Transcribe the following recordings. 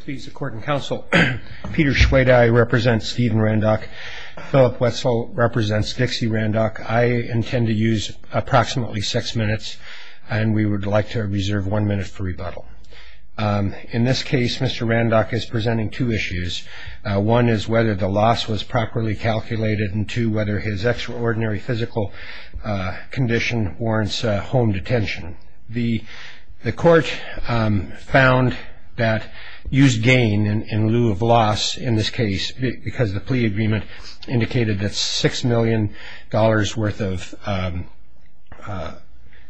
Please the court and counsel. Peter Schwede, I represent Stephen Randock. Philip Wetzel represents Dixie Randock. I intend to use approximately six minutes and we would like to reserve one minute for rebuttal. In this case, Mr. Randock is presenting two issues. One is whether the loss was properly calculated and two whether his extraordinary physical condition warrants home detention. The court found that used gain in lieu of loss in this case because the plea agreement indicated that six million dollars worth of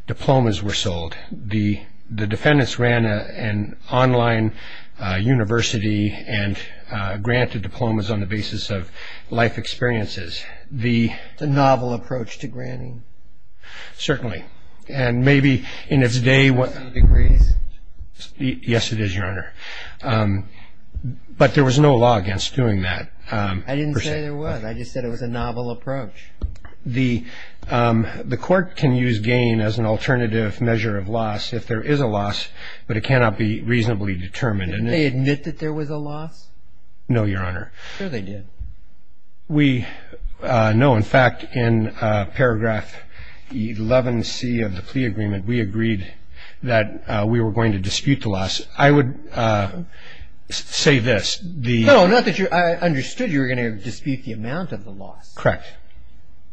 diplomas were sold. The defendants ran an online university and granted diplomas on the basis of life experiences. The novel approach to granting. Certainly. And maybe in its day. Yes, it is, Your Honor. But there was no law against doing that. I didn't say there was. I just said it was a novel approach. The the court can use gain as an alternative measure of loss if there is a loss, but it cannot be reasonably determined. And they admit that there was a loss. No, Your Honor. They did. We know, in fact, in paragraph 11 C of the plea agreement, we agreed that we were going to dispute the loss. I would say this. No, not that I understood you were going to dispute the amount of the loss. Correct.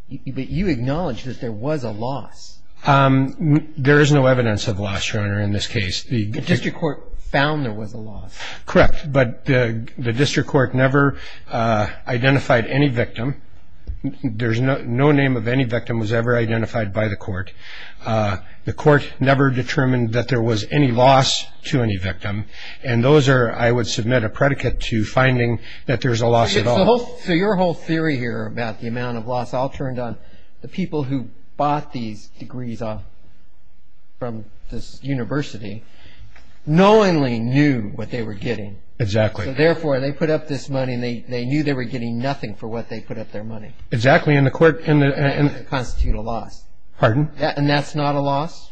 But you acknowledge that there was a loss. There is no evidence of loss, Your Honor. In this case, the district court found there was a loss. Correct. But the district court never identified any victim. There's no no name of any victim was ever identified by the court. The court never determined that there was any loss to any victim. And those are I would submit a predicate to finding that there's a loss. So your whole theory here about the amount of loss all turned on the people who bought these degrees off. From this university knowingly knew what they were getting. Exactly. Therefore, they put up this money and they knew they were getting nothing for what they put up their money. Exactly. And the court and constitute a loss. Pardon. And that's not a loss.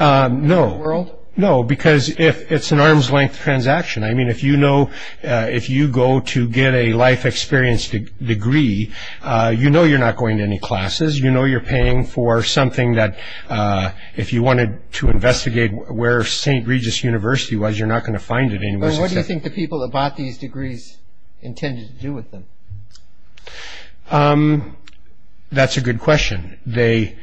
No. No. Because if it's an arm's length transaction, I mean, if you know if you go to get a life experience degree, you know, you're not going to any classes. You know, you're paying for something that if you wanted to investigate where St. Regis University was, you're not going to find it. And what do you think the people that bought these degrees intended to do with them? That's a good question. They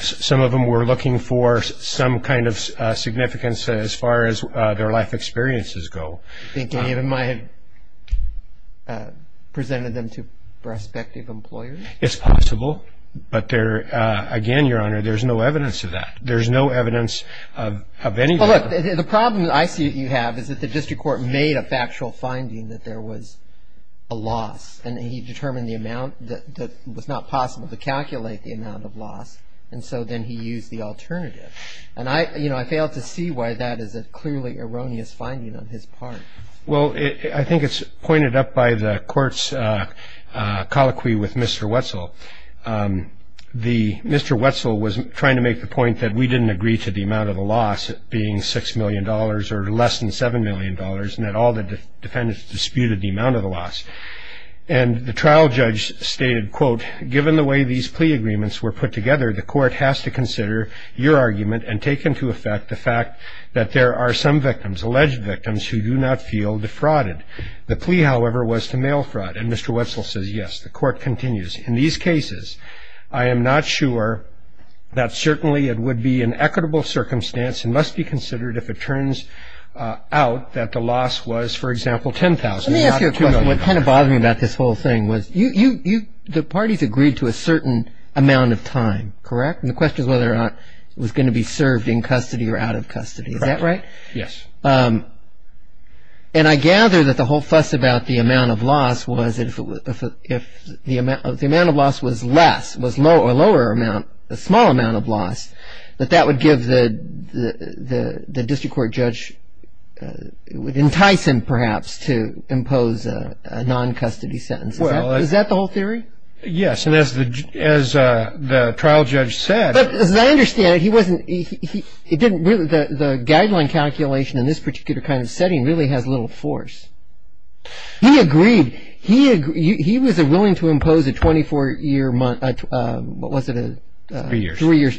some of them were looking for some kind of significance as far as their life experiences go. I think David might have presented them to prospective employers. It's possible. But there again, Your Honor, there's no evidence of that. There's no evidence of any. The problem I see that you have is that the district court made a factual finding that there was a loss. And he determined the amount that was not possible to calculate the amount of loss. And so then he used the alternative. And I, you know, I failed to see why that is a clearly erroneous finding on his part. Well, I think it's pointed up by the court's colloquy with Mr. Wetzel. The Mr. Wetzel was trying to make the point that we didn't agree to the amount of the loss being six million dollars or less than seven million dollars. And that all the defendants disputed the amount of the loss. And the trial judge stated, quote, given the way these plea agreements were put together, the court has to consider your argument and take into effect the fact that there are some victims, alleged victims, who do not feel defrauded. The plea, however, was to mail fraud. And Mr. Wetzel says, yes, the court continues. In these cases, I am not sure that certainly it would be an equitable circumstance and must be considered if it turns out that the loss was, for example, 10,000. Let me ask you a question. What kind of bothered me about this whole thing was the parties agreed to a certain amount of time, correct? And the question is whether or not it was going to be served in custody or out of custody. Is that right? Yes. And I gather that the whole fuss about the amount of loss was if the amount of loss was less, was a lower amount, a small amount of loss, that that would give the district court judge, entice him perhaps to impose a non-custody sentence. Is that the whole theory? Yes. And as the trial judge said. But as I understand it, the guideline calculation in this particular kind of setting really has little force. He agreed. He was willing to impose a 24-year month. What was it? Three years. Three years.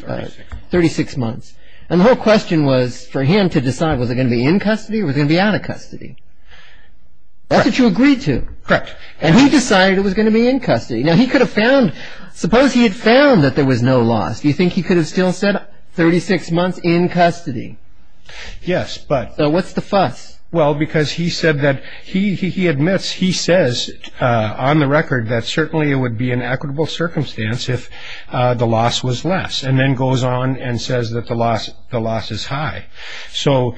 36 months. And the whole question was for him to decide, was it going to be in custody or was it going to be out of custody? Correct. That's what you agreed to. Correct. And he decided it was going to be in custody. Now, he could have found, suppose he had found that there was no loss. Do you think he could have still said 36 months in custody? Yes, but. So what's the fuss? Well, because he said that, he admits, he says on the record that certainly it would be in equitable circumstance if the loss was less. And then goes on and says that the loss is high. So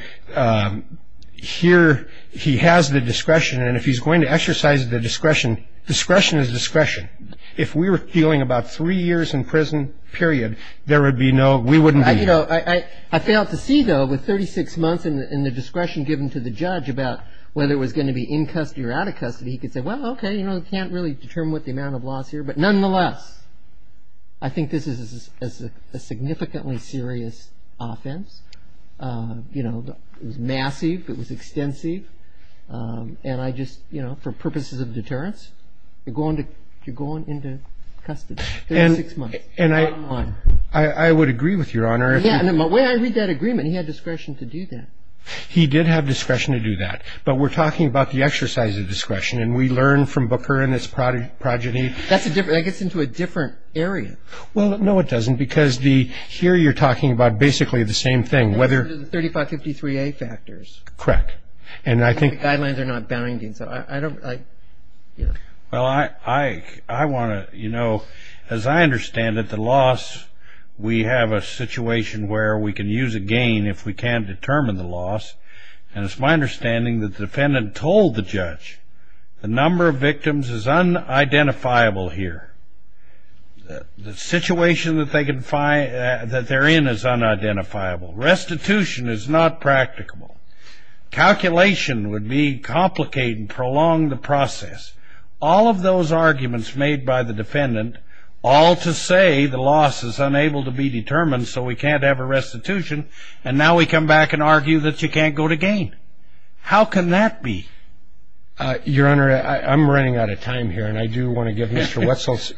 here he has the discretion, and if he's going to exercise the discretion, discretion is discretion. If we were dealing about three years in prison, period, there would be no, we wouldn't be. You know, I failed to see, though, with 36 months and the discretion given to the judge about whether it was going to be in custody or out of custody, he could say, well, okay, you know, you can't really determine what the amount of loss here. But nonetheless, I think this is a significantly serious offense. You know, it was massive. It was extensive. And I just, you know, for purposes of deterrence, you're going to, you're going into custody. And I would agree with Your Honor. The way I read that agreement, he had discretion to do that. He did have discretion to do that. But we're talking about the exercise of discretion, and we learn from Booker and his progeny. That gets into a different area. Well, no, it doesn't, because here you're talking about basically the same thing. 3553A factors. Correct. And I think the guidelines are not bounding. Well, I want to, you know, as I understand it, the loss, we have a situation where we can use a gain if we can't determine the loss. And it's my understanding that the defendant told the judge the number of victims is unidentifiable here. The situation that they're in is unidentifiable. Restitution is not practicable. Calculation would be complicated and prolong the process. All of those arguments made by the defendant, all to say the loss is unable to be determined, so we can't have a restitution, and now we come back and argue that you can't go to gain. How can that be? Your Honor, I'm running out of time here, and I do want to give Mr. Wetzel's.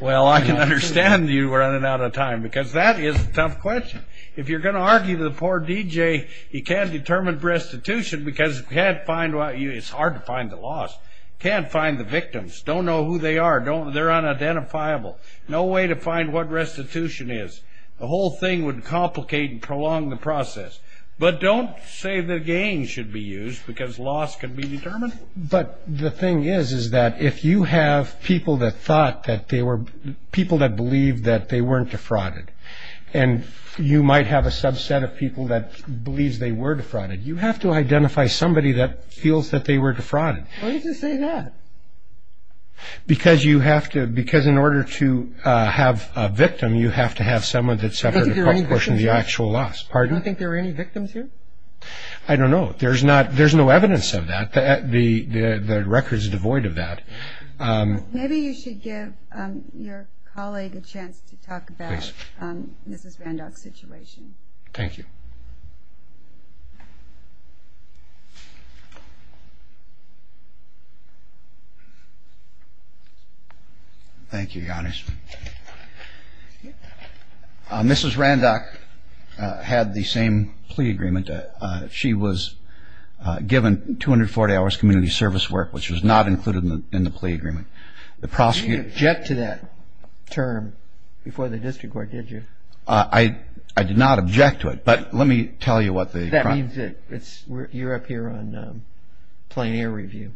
Well, I can understand you running out of time, because that is a tough question. If you're going to argue to the poor DJ, he can't determine restitution, because it's hard to find the loss. Can't find the victims. Don't know who they are. They're unidentifiable. No way to find what restitution is. The whole thing would complicate and prolong the process. But don't say that gain should be used, because loss can be determined. But the thing is is that if you have people that thought that they were, people that believed that they weren't defrauded, and you might have a subset of people that believes they were defrauded, you have to identify somebody that feels that they were defrauded. Why did you say that? Because you have to, because in order to have a victim, you have to have someone that's separate from the actual loss. Do you think there were any victims here? I don't know. There's no evidence of that. The record is devoid of that. Maybe you should give your colleague a chance to talk about Mrs. Randach's situation. Thank you. Thank you, Your Honors. Mrs. Randach had the same plea agreement. She was given 240 hours community service work, which was not included in the plea agreement. You didn't object to that term before the district court, did you? I did not object to it. But let me tell you what the chronology was. That means that you're up here on plein air review.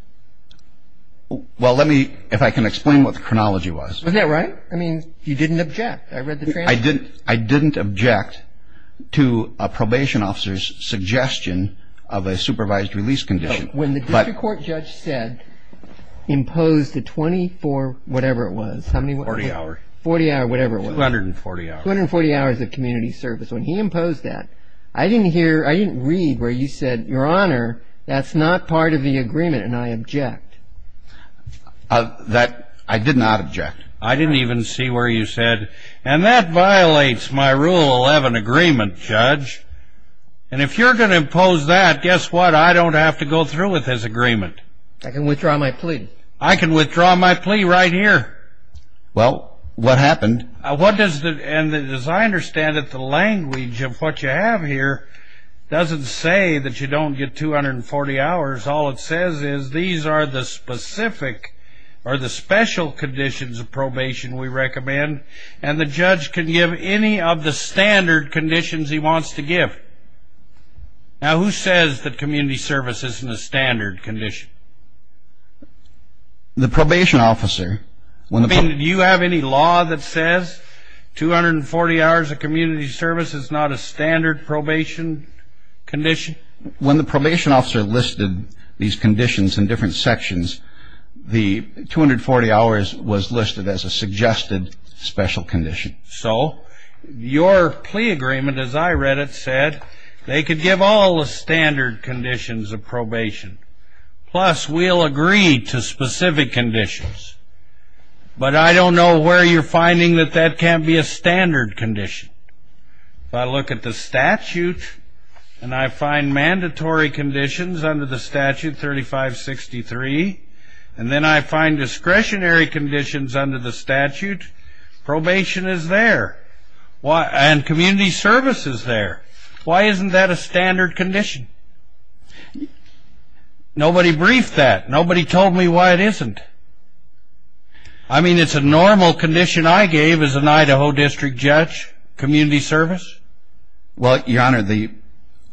Well, let me, if I can explain what the chronology was. Isn't that right? I mean, you didn't object. I read the transcript. I didn't object to a probation officer's suggestion of a supervised release condition. When the district court judge said impose the 24, whatever it was, how many? 40 hours. 40 hours, whatever it was. 240 hours. 240 hours of community service. When he imposed that, I didn't hear, I didn't read where you said, Your Honor, that's not part of the agreement, and I object. I did not object. I didn't even see where you said. And that violates my Rule 11 agreement, Judge. And if you're going to impose that, guess what? I don't have to go through with this agreement. I can withdraw my plea. I can withdraw my plea right here. Well, what happened? And as I understand it, the language of what you have here doesn't say that you don't get 240 hours. All it says is these are the specific or the special conditions of probation we recommend, and the judge can give any of the standard conditions he wants to give. Now, who says that community service isn't a standard condition? The probation officer. Do you have any law that says 240 hours of community service is not a standard probation condition? When the probation officer listed these conditions in different sections, the 240 hours was listed as a suggested special condition. So your plea agreement, as I read it, said they could give all the standard conditions of probation, plus we'll agree to specific conditions. But I don't know where you're finding that that can't be a standard condition. If I look at the statute and I find mandatory conditions under the statute 3563, and then I find discretionary conditions under the statute, probation is there. And community service is there. Why isn't that a standard condition? Nobody briefed that. Nobody told me why it isn't. I mean, it's a normal condition I gave as an Idaho district judge, community service? Well, Your Honor, it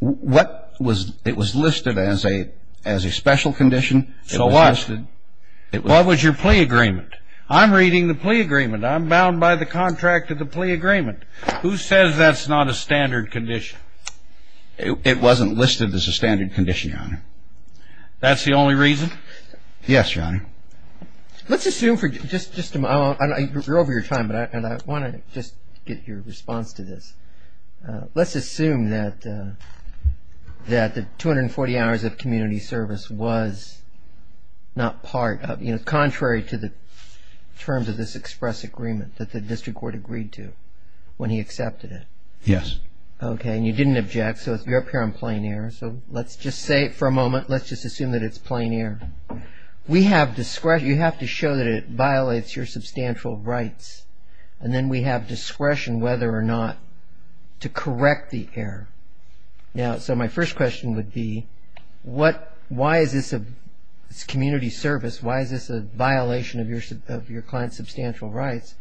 was listed as a special condition. So what? It was listed. What was your plea agreement? I'm reading the plea agreement. I'm bound by the contract of the plea agreement. Who says that's not a standard condition? It wasn't listed as a standard condition, Your Honor. That's the only reason? Yes, Your Honor. Let's assume for just a moment. You're over your time, but I want to just get your response to this. Let's assume that the 240 hours of community service was not part of, you know, contrary to the terms of this express agreement that the district court agreed to when he accepted it. Yes. Okay. And you didn't object, so you're up here on plain error. So let's just say for a moment, let's just assume that it's plain error. We have discretion. You have to show that it violates your substantial rights, and then we have discretion whether or not to correct the error. Now, so my first question would be, why is this community service, why is this a violation of your client's substantial rights?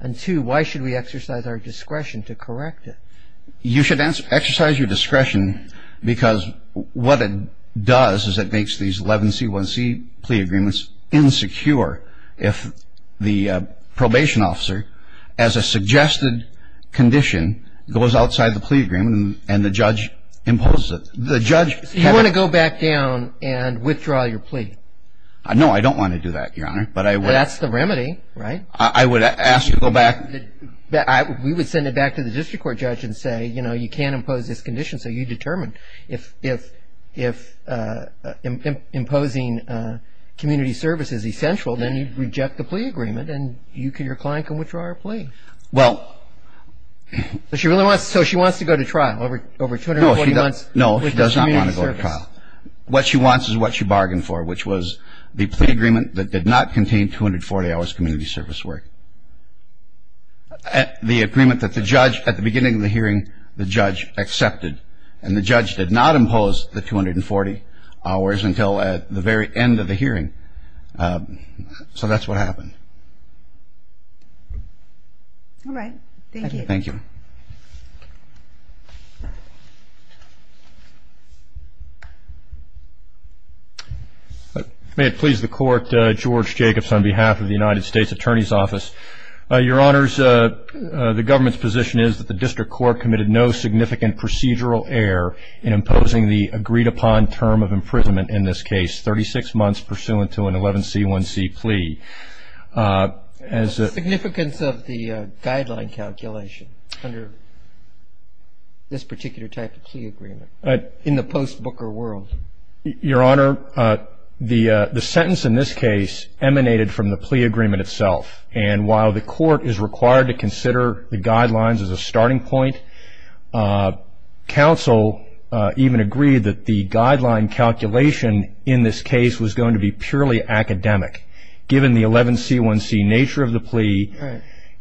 And two, why should we exercise our discretion to correct it? You should exercise your discretion because what it does is it makes these 11C1C plea agreements insecure. If the probation officer, as a suggested condition, goes outside the plea agreement and the judge imposes it, the judge can't go back down and withdraw your plea. No, I don't want to do that, Your Honor. But that's the remedy, right? I would ask to go back. We would send it back to the district court judge and say, you know, you can't impose this condition, so you determine. If imposing community service is essential, then you reject the plea agreement and your client can withdraw her plea. Well. So she wants to go to trial over 240 months. No, she does not want to go to trial. What she wants is what she bargained for, which was the plea agreement that did not contain 240 hours community service work. The agreement that the judge, at the beginning of the hearing, the judge accepted. And the judge did not impose the 240 hours until at the very end of the hearing. So that's what happened. All right. Thank you. Thank you. May it please the Court, George Jacobs, on behalf of the United States Attorney's Office. Your Honors, the government's position is that the district court committed no significant procedural error in imposing the agreed-upon term of imprisonment in this case, 36 months pursuant to an 11C1C plea. The significance of the guideline calculation under this particular type of plea agreement in the post-Booker world? Your Honor, the sentence in this case emanated from the plea agreement itself. And while the court is required to consider the guidelines as a starting point, counsel even agreed that the guideline calculation in this case was going to be purely academic, given the 11C1C nature of the plea.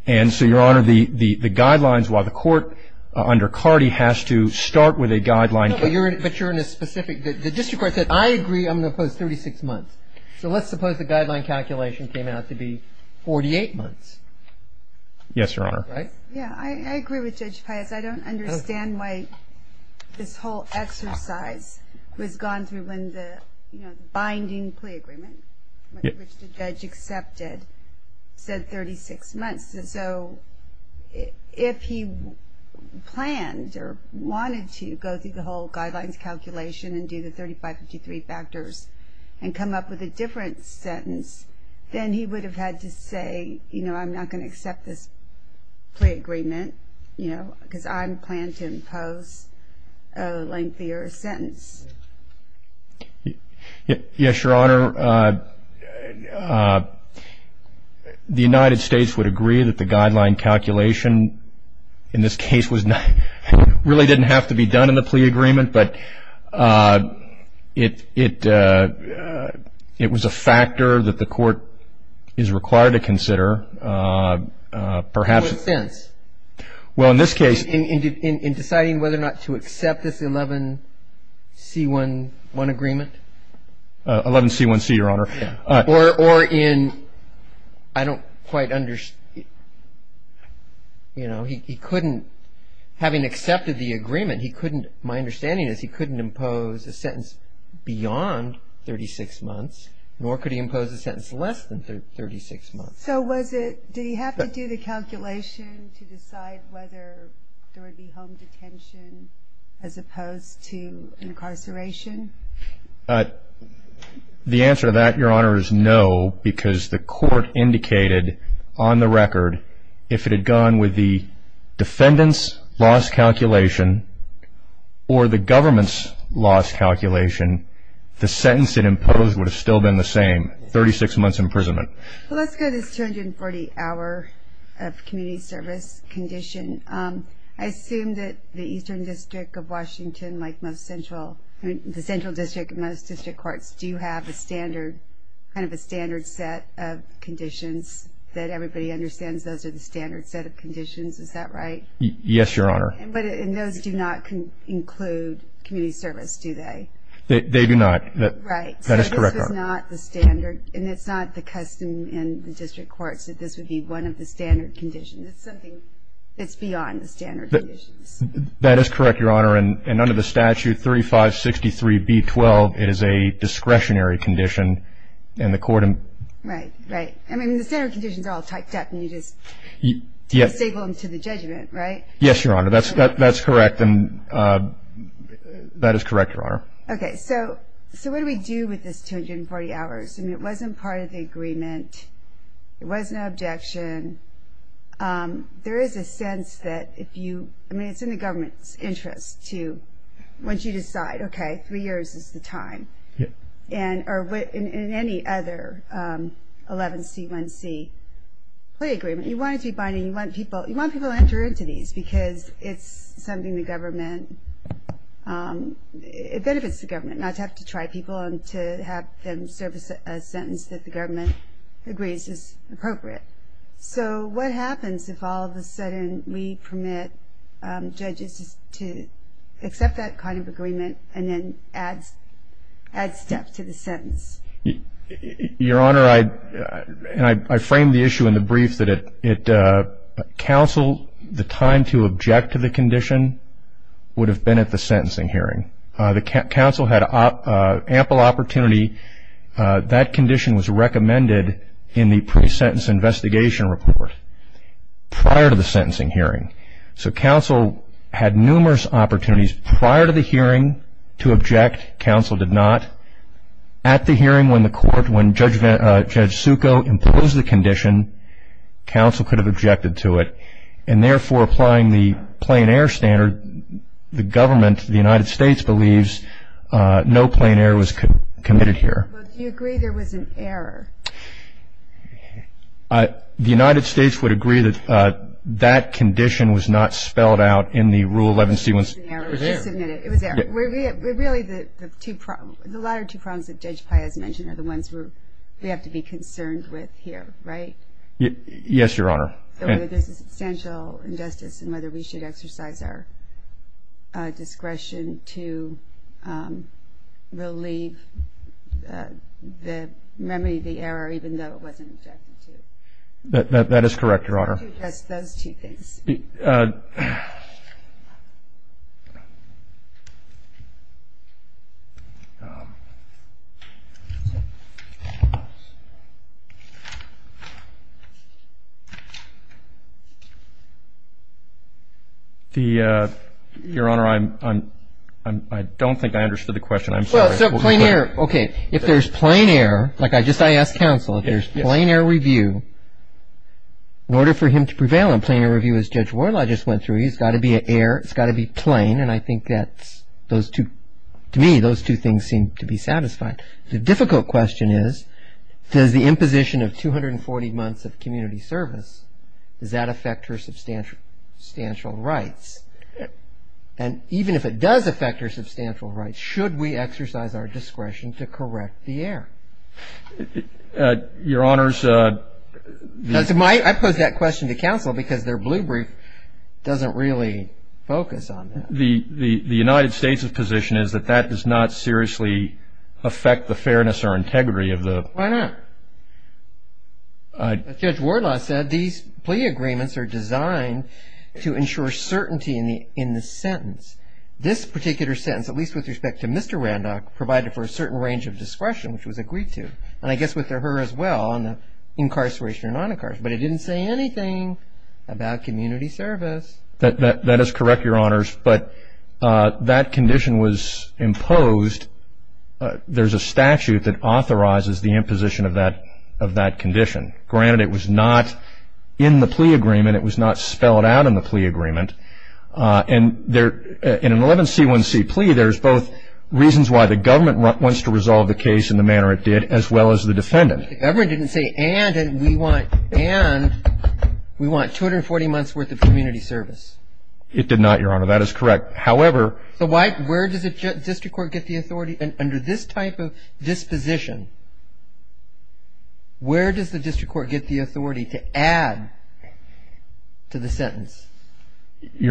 And so, Your Honor, the guidelines, while the court under Cardi has to start with a guideline. But you're in a specific, the district court said, I agree I'm going to impose 36 months. So let's suppose the guideline calculation came out to be 48 months. Yes, Your Honor. Right? Yeah, I agree with Judge Pius. I don't understand why this whole exercise was gone through when the binding plea agreement, which the judge accepted, said 36 months. So if he planned or wanted to go through the whole guidelines calculation and do the 3553 factors and come up with a different sentence, then he would have had to say, you know, I'm not going to accept this plea agreement, you know, because I plan to impose a lengthier sentence. Yes, Your Honor. Your Honor, the United States would agree that the guideline calculation in this case was not, really didn't have to be done in the plea agreement. But it was a factor that the court is required to consider, perhaps. In what sense? Well, in this case. In deciding whether or not to accept this 11C1C1 agreement? 11C1C, Your Honor. Or in, I don't quite understand, you know, he couldn't, having accepted the agreement, he couldn't, my understanding is he couldn't impose a sentence beyond 36 months, nor could he impose a sentence less than 36 months. So was it, did he have to do the calculation to decide whether there would be home detention as opposed to incarceration? The answer to that, Your Honor, is no, because the court indicated on the record, if it had gone with the defendant's loss calculation or the government's loss calculation, the sentence it imposed would have still been the same, 36 months imprisonment. Well, let's go to this 240-hour of community service condition. I assume that the Eastern District of Washington, like most central, the central district of most district courts, do have a standard, kind of a standard set of conditions that everybody understands those are the standard set of conditions. Is that right? Yes, Your Honor. But those do not include community service, do they? They do not. Right. That is correct, Your Honor. So this was not the standard, and it's not the custom in the district courts that this would be one of the standard conditions. It's something that's beyond the standard conditions. That is correct, Your Honor, and under the statute 3563-B-12, it is a discretionary condition, and the court in- Right, right. I mean, the standard conditions are all typed up, and you just disable them to the judgment, right? Yes, Your Honor, that's correct, and that is correct, Your Honor. Okay. So what do we do with this 240 hours? I mean, it wasn't part of the agreement. It wasn't an objection. There is a sense that if you-I mean, it's in the government's interest to, once you decide, okay, three years is the time, or in any other 11C-1C play agreement. You want it to be binding. You want people to enter into these because it's something the government-it benefits the government not to have to try people and to have them serve a sentence that the government agrees is appropriate. So what happens if all of a sudden we permit judges to accept that kind of agreement and then add step to the sentence? Your Honor, I-and I framed the issue in the brief that it-counsel, the time to object to the condition would have been at the sentencing hearing. The counsel had ample opportunity. That condition was recommended in the pre-sentence investigation report prior to the sentencing hearing. So counsel had numerous opportunities prior to the hearing to object. Counsel did not. At the hearing when the court-when Judge Succo imposed the condition, counsel could have objected to it, and therefore applying the plain error standard, the government, the United States, believes no plain error was committed here. Well, do you agree there was an error? The United States would agree that that condition was not spelled out in the Rule 11C-1C. It was an error. It was an error. It was an error. Really, the two-the latter two prongs that Judge Pai has mentioned are the ones we have to be concerned with here, right? Yes, Your Honor. Whether there's substantial injustice and whether we should exercise our discretion to relieve the memory of the error, even though it wasn't objected to. That is correct, Your Honor. Those two things. Your Honor, I'm-I don't think I understood the question. I'm sorry. Well, so plain error. Okay. If there's plain error, like I just-I asked counsel, if there's plain error review, in order for him to prevail Yes. I think that's what Judge Warlaw just went through. He's got to be an error. It's got to be plain, and I think that those two-to me, those two things seem to be satisfied. The difficult question is, does the imposition of 240 months of community service, does that affect her substantial rights? And even if it does affect her substantial rights, should we exercise our discretion to correct the error? Your Honor's- I posed that question to counsel because their blue brief doesn't really focus on that. The United States' position is that that does not seriously affect the fairness or integrity of the- Why not? As Judge Warlaw said, these plea agreements are designed to ensure certainty in the sentence. This particular sentence, at least with respect to Mr. Randolph, provided for a certain range of discretion, which was agreed to. And I guess with her as well, on the incarceration or non-incarceration, but it didn't say anything about community service. That is correct, Your Honors, but that condition was imposed. There's a statute that authorizes the imposition of that condition. Granted, it was not in the plea agreement. It was not spelled out in the plea agreement. And in an 11C1C plea, there's both reasons why the government wants to resolve the case in the manner it did, as well as the defendant. The government didn't say, and we want 240 months' worth of community service. It did not, Your Honor. That is correct. However- So where does the district court get the authority? Your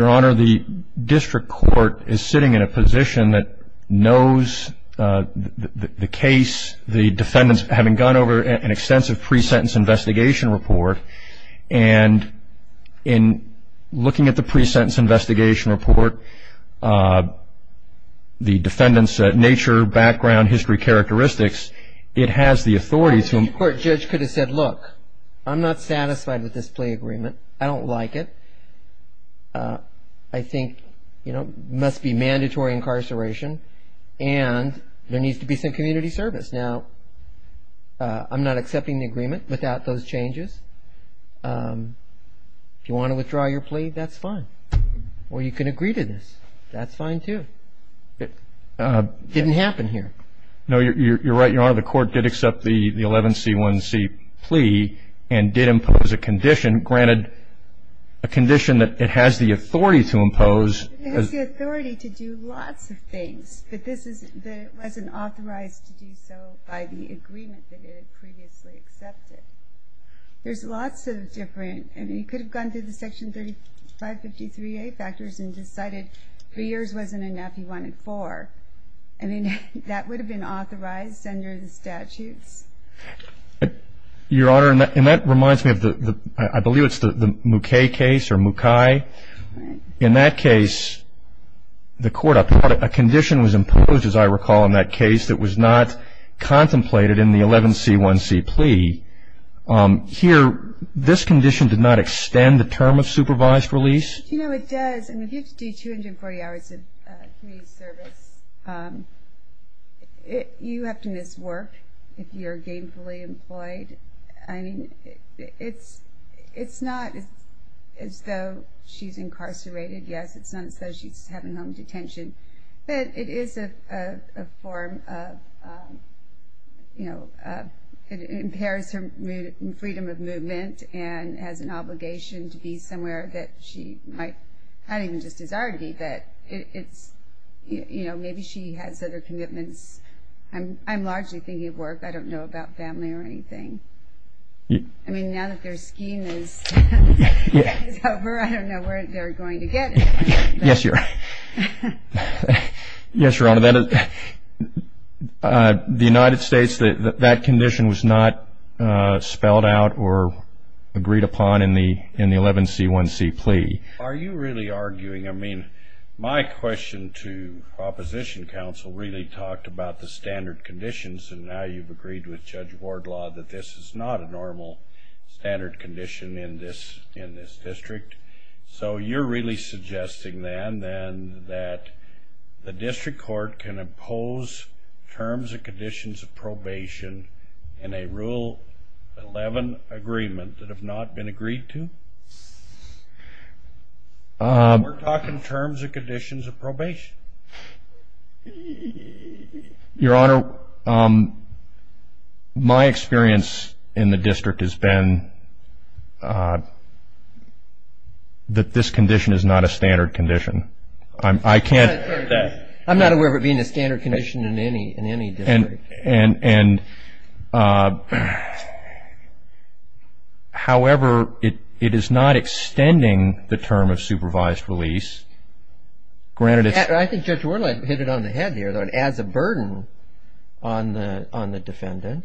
Honor, the district court is sitting in a position that knows the case. The defendant, having gone over an extensive pre-sentence investigation report, and in looking at the pre-sentence investigation report, the defendant's nature, background, history, characteristics, it has the authority to- The district court judge could have said, look, I'm not satisfied with this plea agreement. I don't like it. I think it must be mandatory incarceration, and there needs to be some community service. Now, I'm not accepting the agreement without those changes. If you want to withdraw your plea, that's fine. Or you can agree to this. That's fine, too. It didn't happen here. No, you're right, Your Honor. The court did accept the 11C1C plea and did impose a condition. Granted, a condition that it has the authority to impose- It has the authority to do lots of things, but it wasn't authorized to do so by the agreement that it had previously accepted. There's lots of different- I mean, he could have gone through the Section 553A factors and decided three years wasn't enough. He wanted four. I mean, that would have been authorized under the statutes. Your Honor, and that reminds me of the-I believe it's the Mukay case or Mukai. In that case, the court-a condition was imposed, as I recall, in that case that was not contemplated in the 11C1C plea. Here, this condition did not extend the term of supervised release. You know, it does. I mean, if you have to do 240 hours of community service, you have to miss work if you're gainfully employed. I mean, it's not as though she's incarcerated. Yes, it's not as though she's having home detention. But it is a form of-you know, it impairs her freedom of movement and has an obligation to be somewhere that she might- not even just disargy, but it's-you know, maybe she has other commitments. I'm largely thinking of work. I don't know about family or anything. I mean, now that their scheme is over, I don't know where they're going to get it. Yes, Your Honor. Yes, Your Honor. The United States, that condition was not spelled out or agreed upon in the 11C1C plea. Are you really arguing-I mean, my question to Opposition Counsel really talked about the standard conditions, and now you've agreed with Judge Wardlaw that this is not a normal standard condition in this district. So you're really suggesting then that the district court can impose terms and conditions of probation in a Rule 11 agreement that have not been agreed to? We're talking terms and conditions of probation. Your Honor, my experience in the district has been that this condition is not a standard condition. I can't- I'm not aware of it being a standard condition in any district. And, however, it is not extending the term of supervised release, granted it's- I think Judge Wardlaw hit it on the head here, though, it adds a burden on the defendant.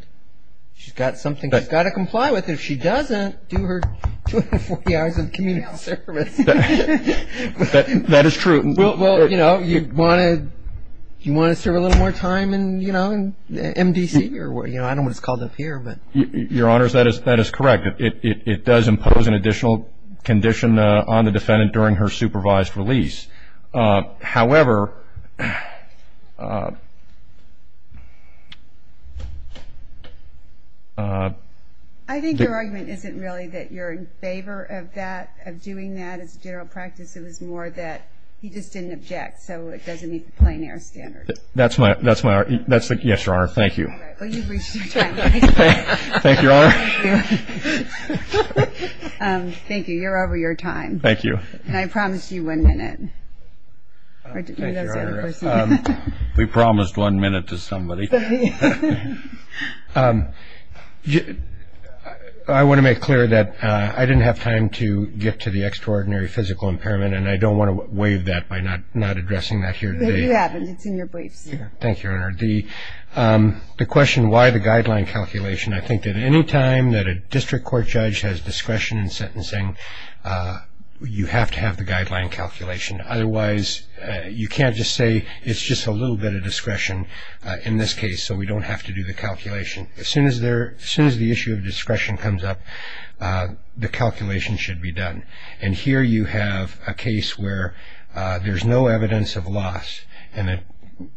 She's got something she's got to comply with. If she doesn't, do her 240 hours of community service. That is true. Well, you know, you want to serve a little more time in, you know, MDC. I don't know what it's called up here, but- Your Honors, that is correct. It does impose an additional condition on the defendant during her supervised release. However- I think your argument isn't really that you're in favor of that, of doing that as a general practice. It was more that he just didn't object, so it doesn't meet the plein air standards. That's my- Yes, Your Honor. Thank you. Well, you've reached your time. Thank you, Your Honor. Thank you. You're over your time. Thank you. And I promised you one minute. Thank you, Your Honor. We promised one minute to somebody. I want to make clear that I didn't have time to get to the extraordinary physical impairment, and I don't want to waive that by not addressing that here today. You have it. It's in your briefs. Thank you, Your Honor. The question why the guideline calculation, I think that any time that a district court judge has discretion in sentencing, you have to have the guideline calculation. Otherwise, you can't just say it's just a little bit of discretion in this case, so we don't have to do the calculation. As soon as the issue of discretion comes up, the calculation should be done. And here you have a case where there's no evidence of loss, and the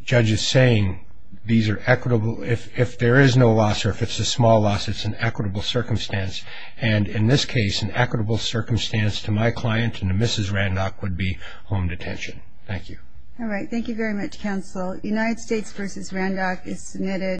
judge is saying these are equitable. If there is no loss or if it's a small loss, it's an equitable circumstance. And in this case, an equitable circumstance to my client and to Mrs. Randach would be home detention. Thank you. All right. Thank you very much, counsel. United States v. Randach is submitted.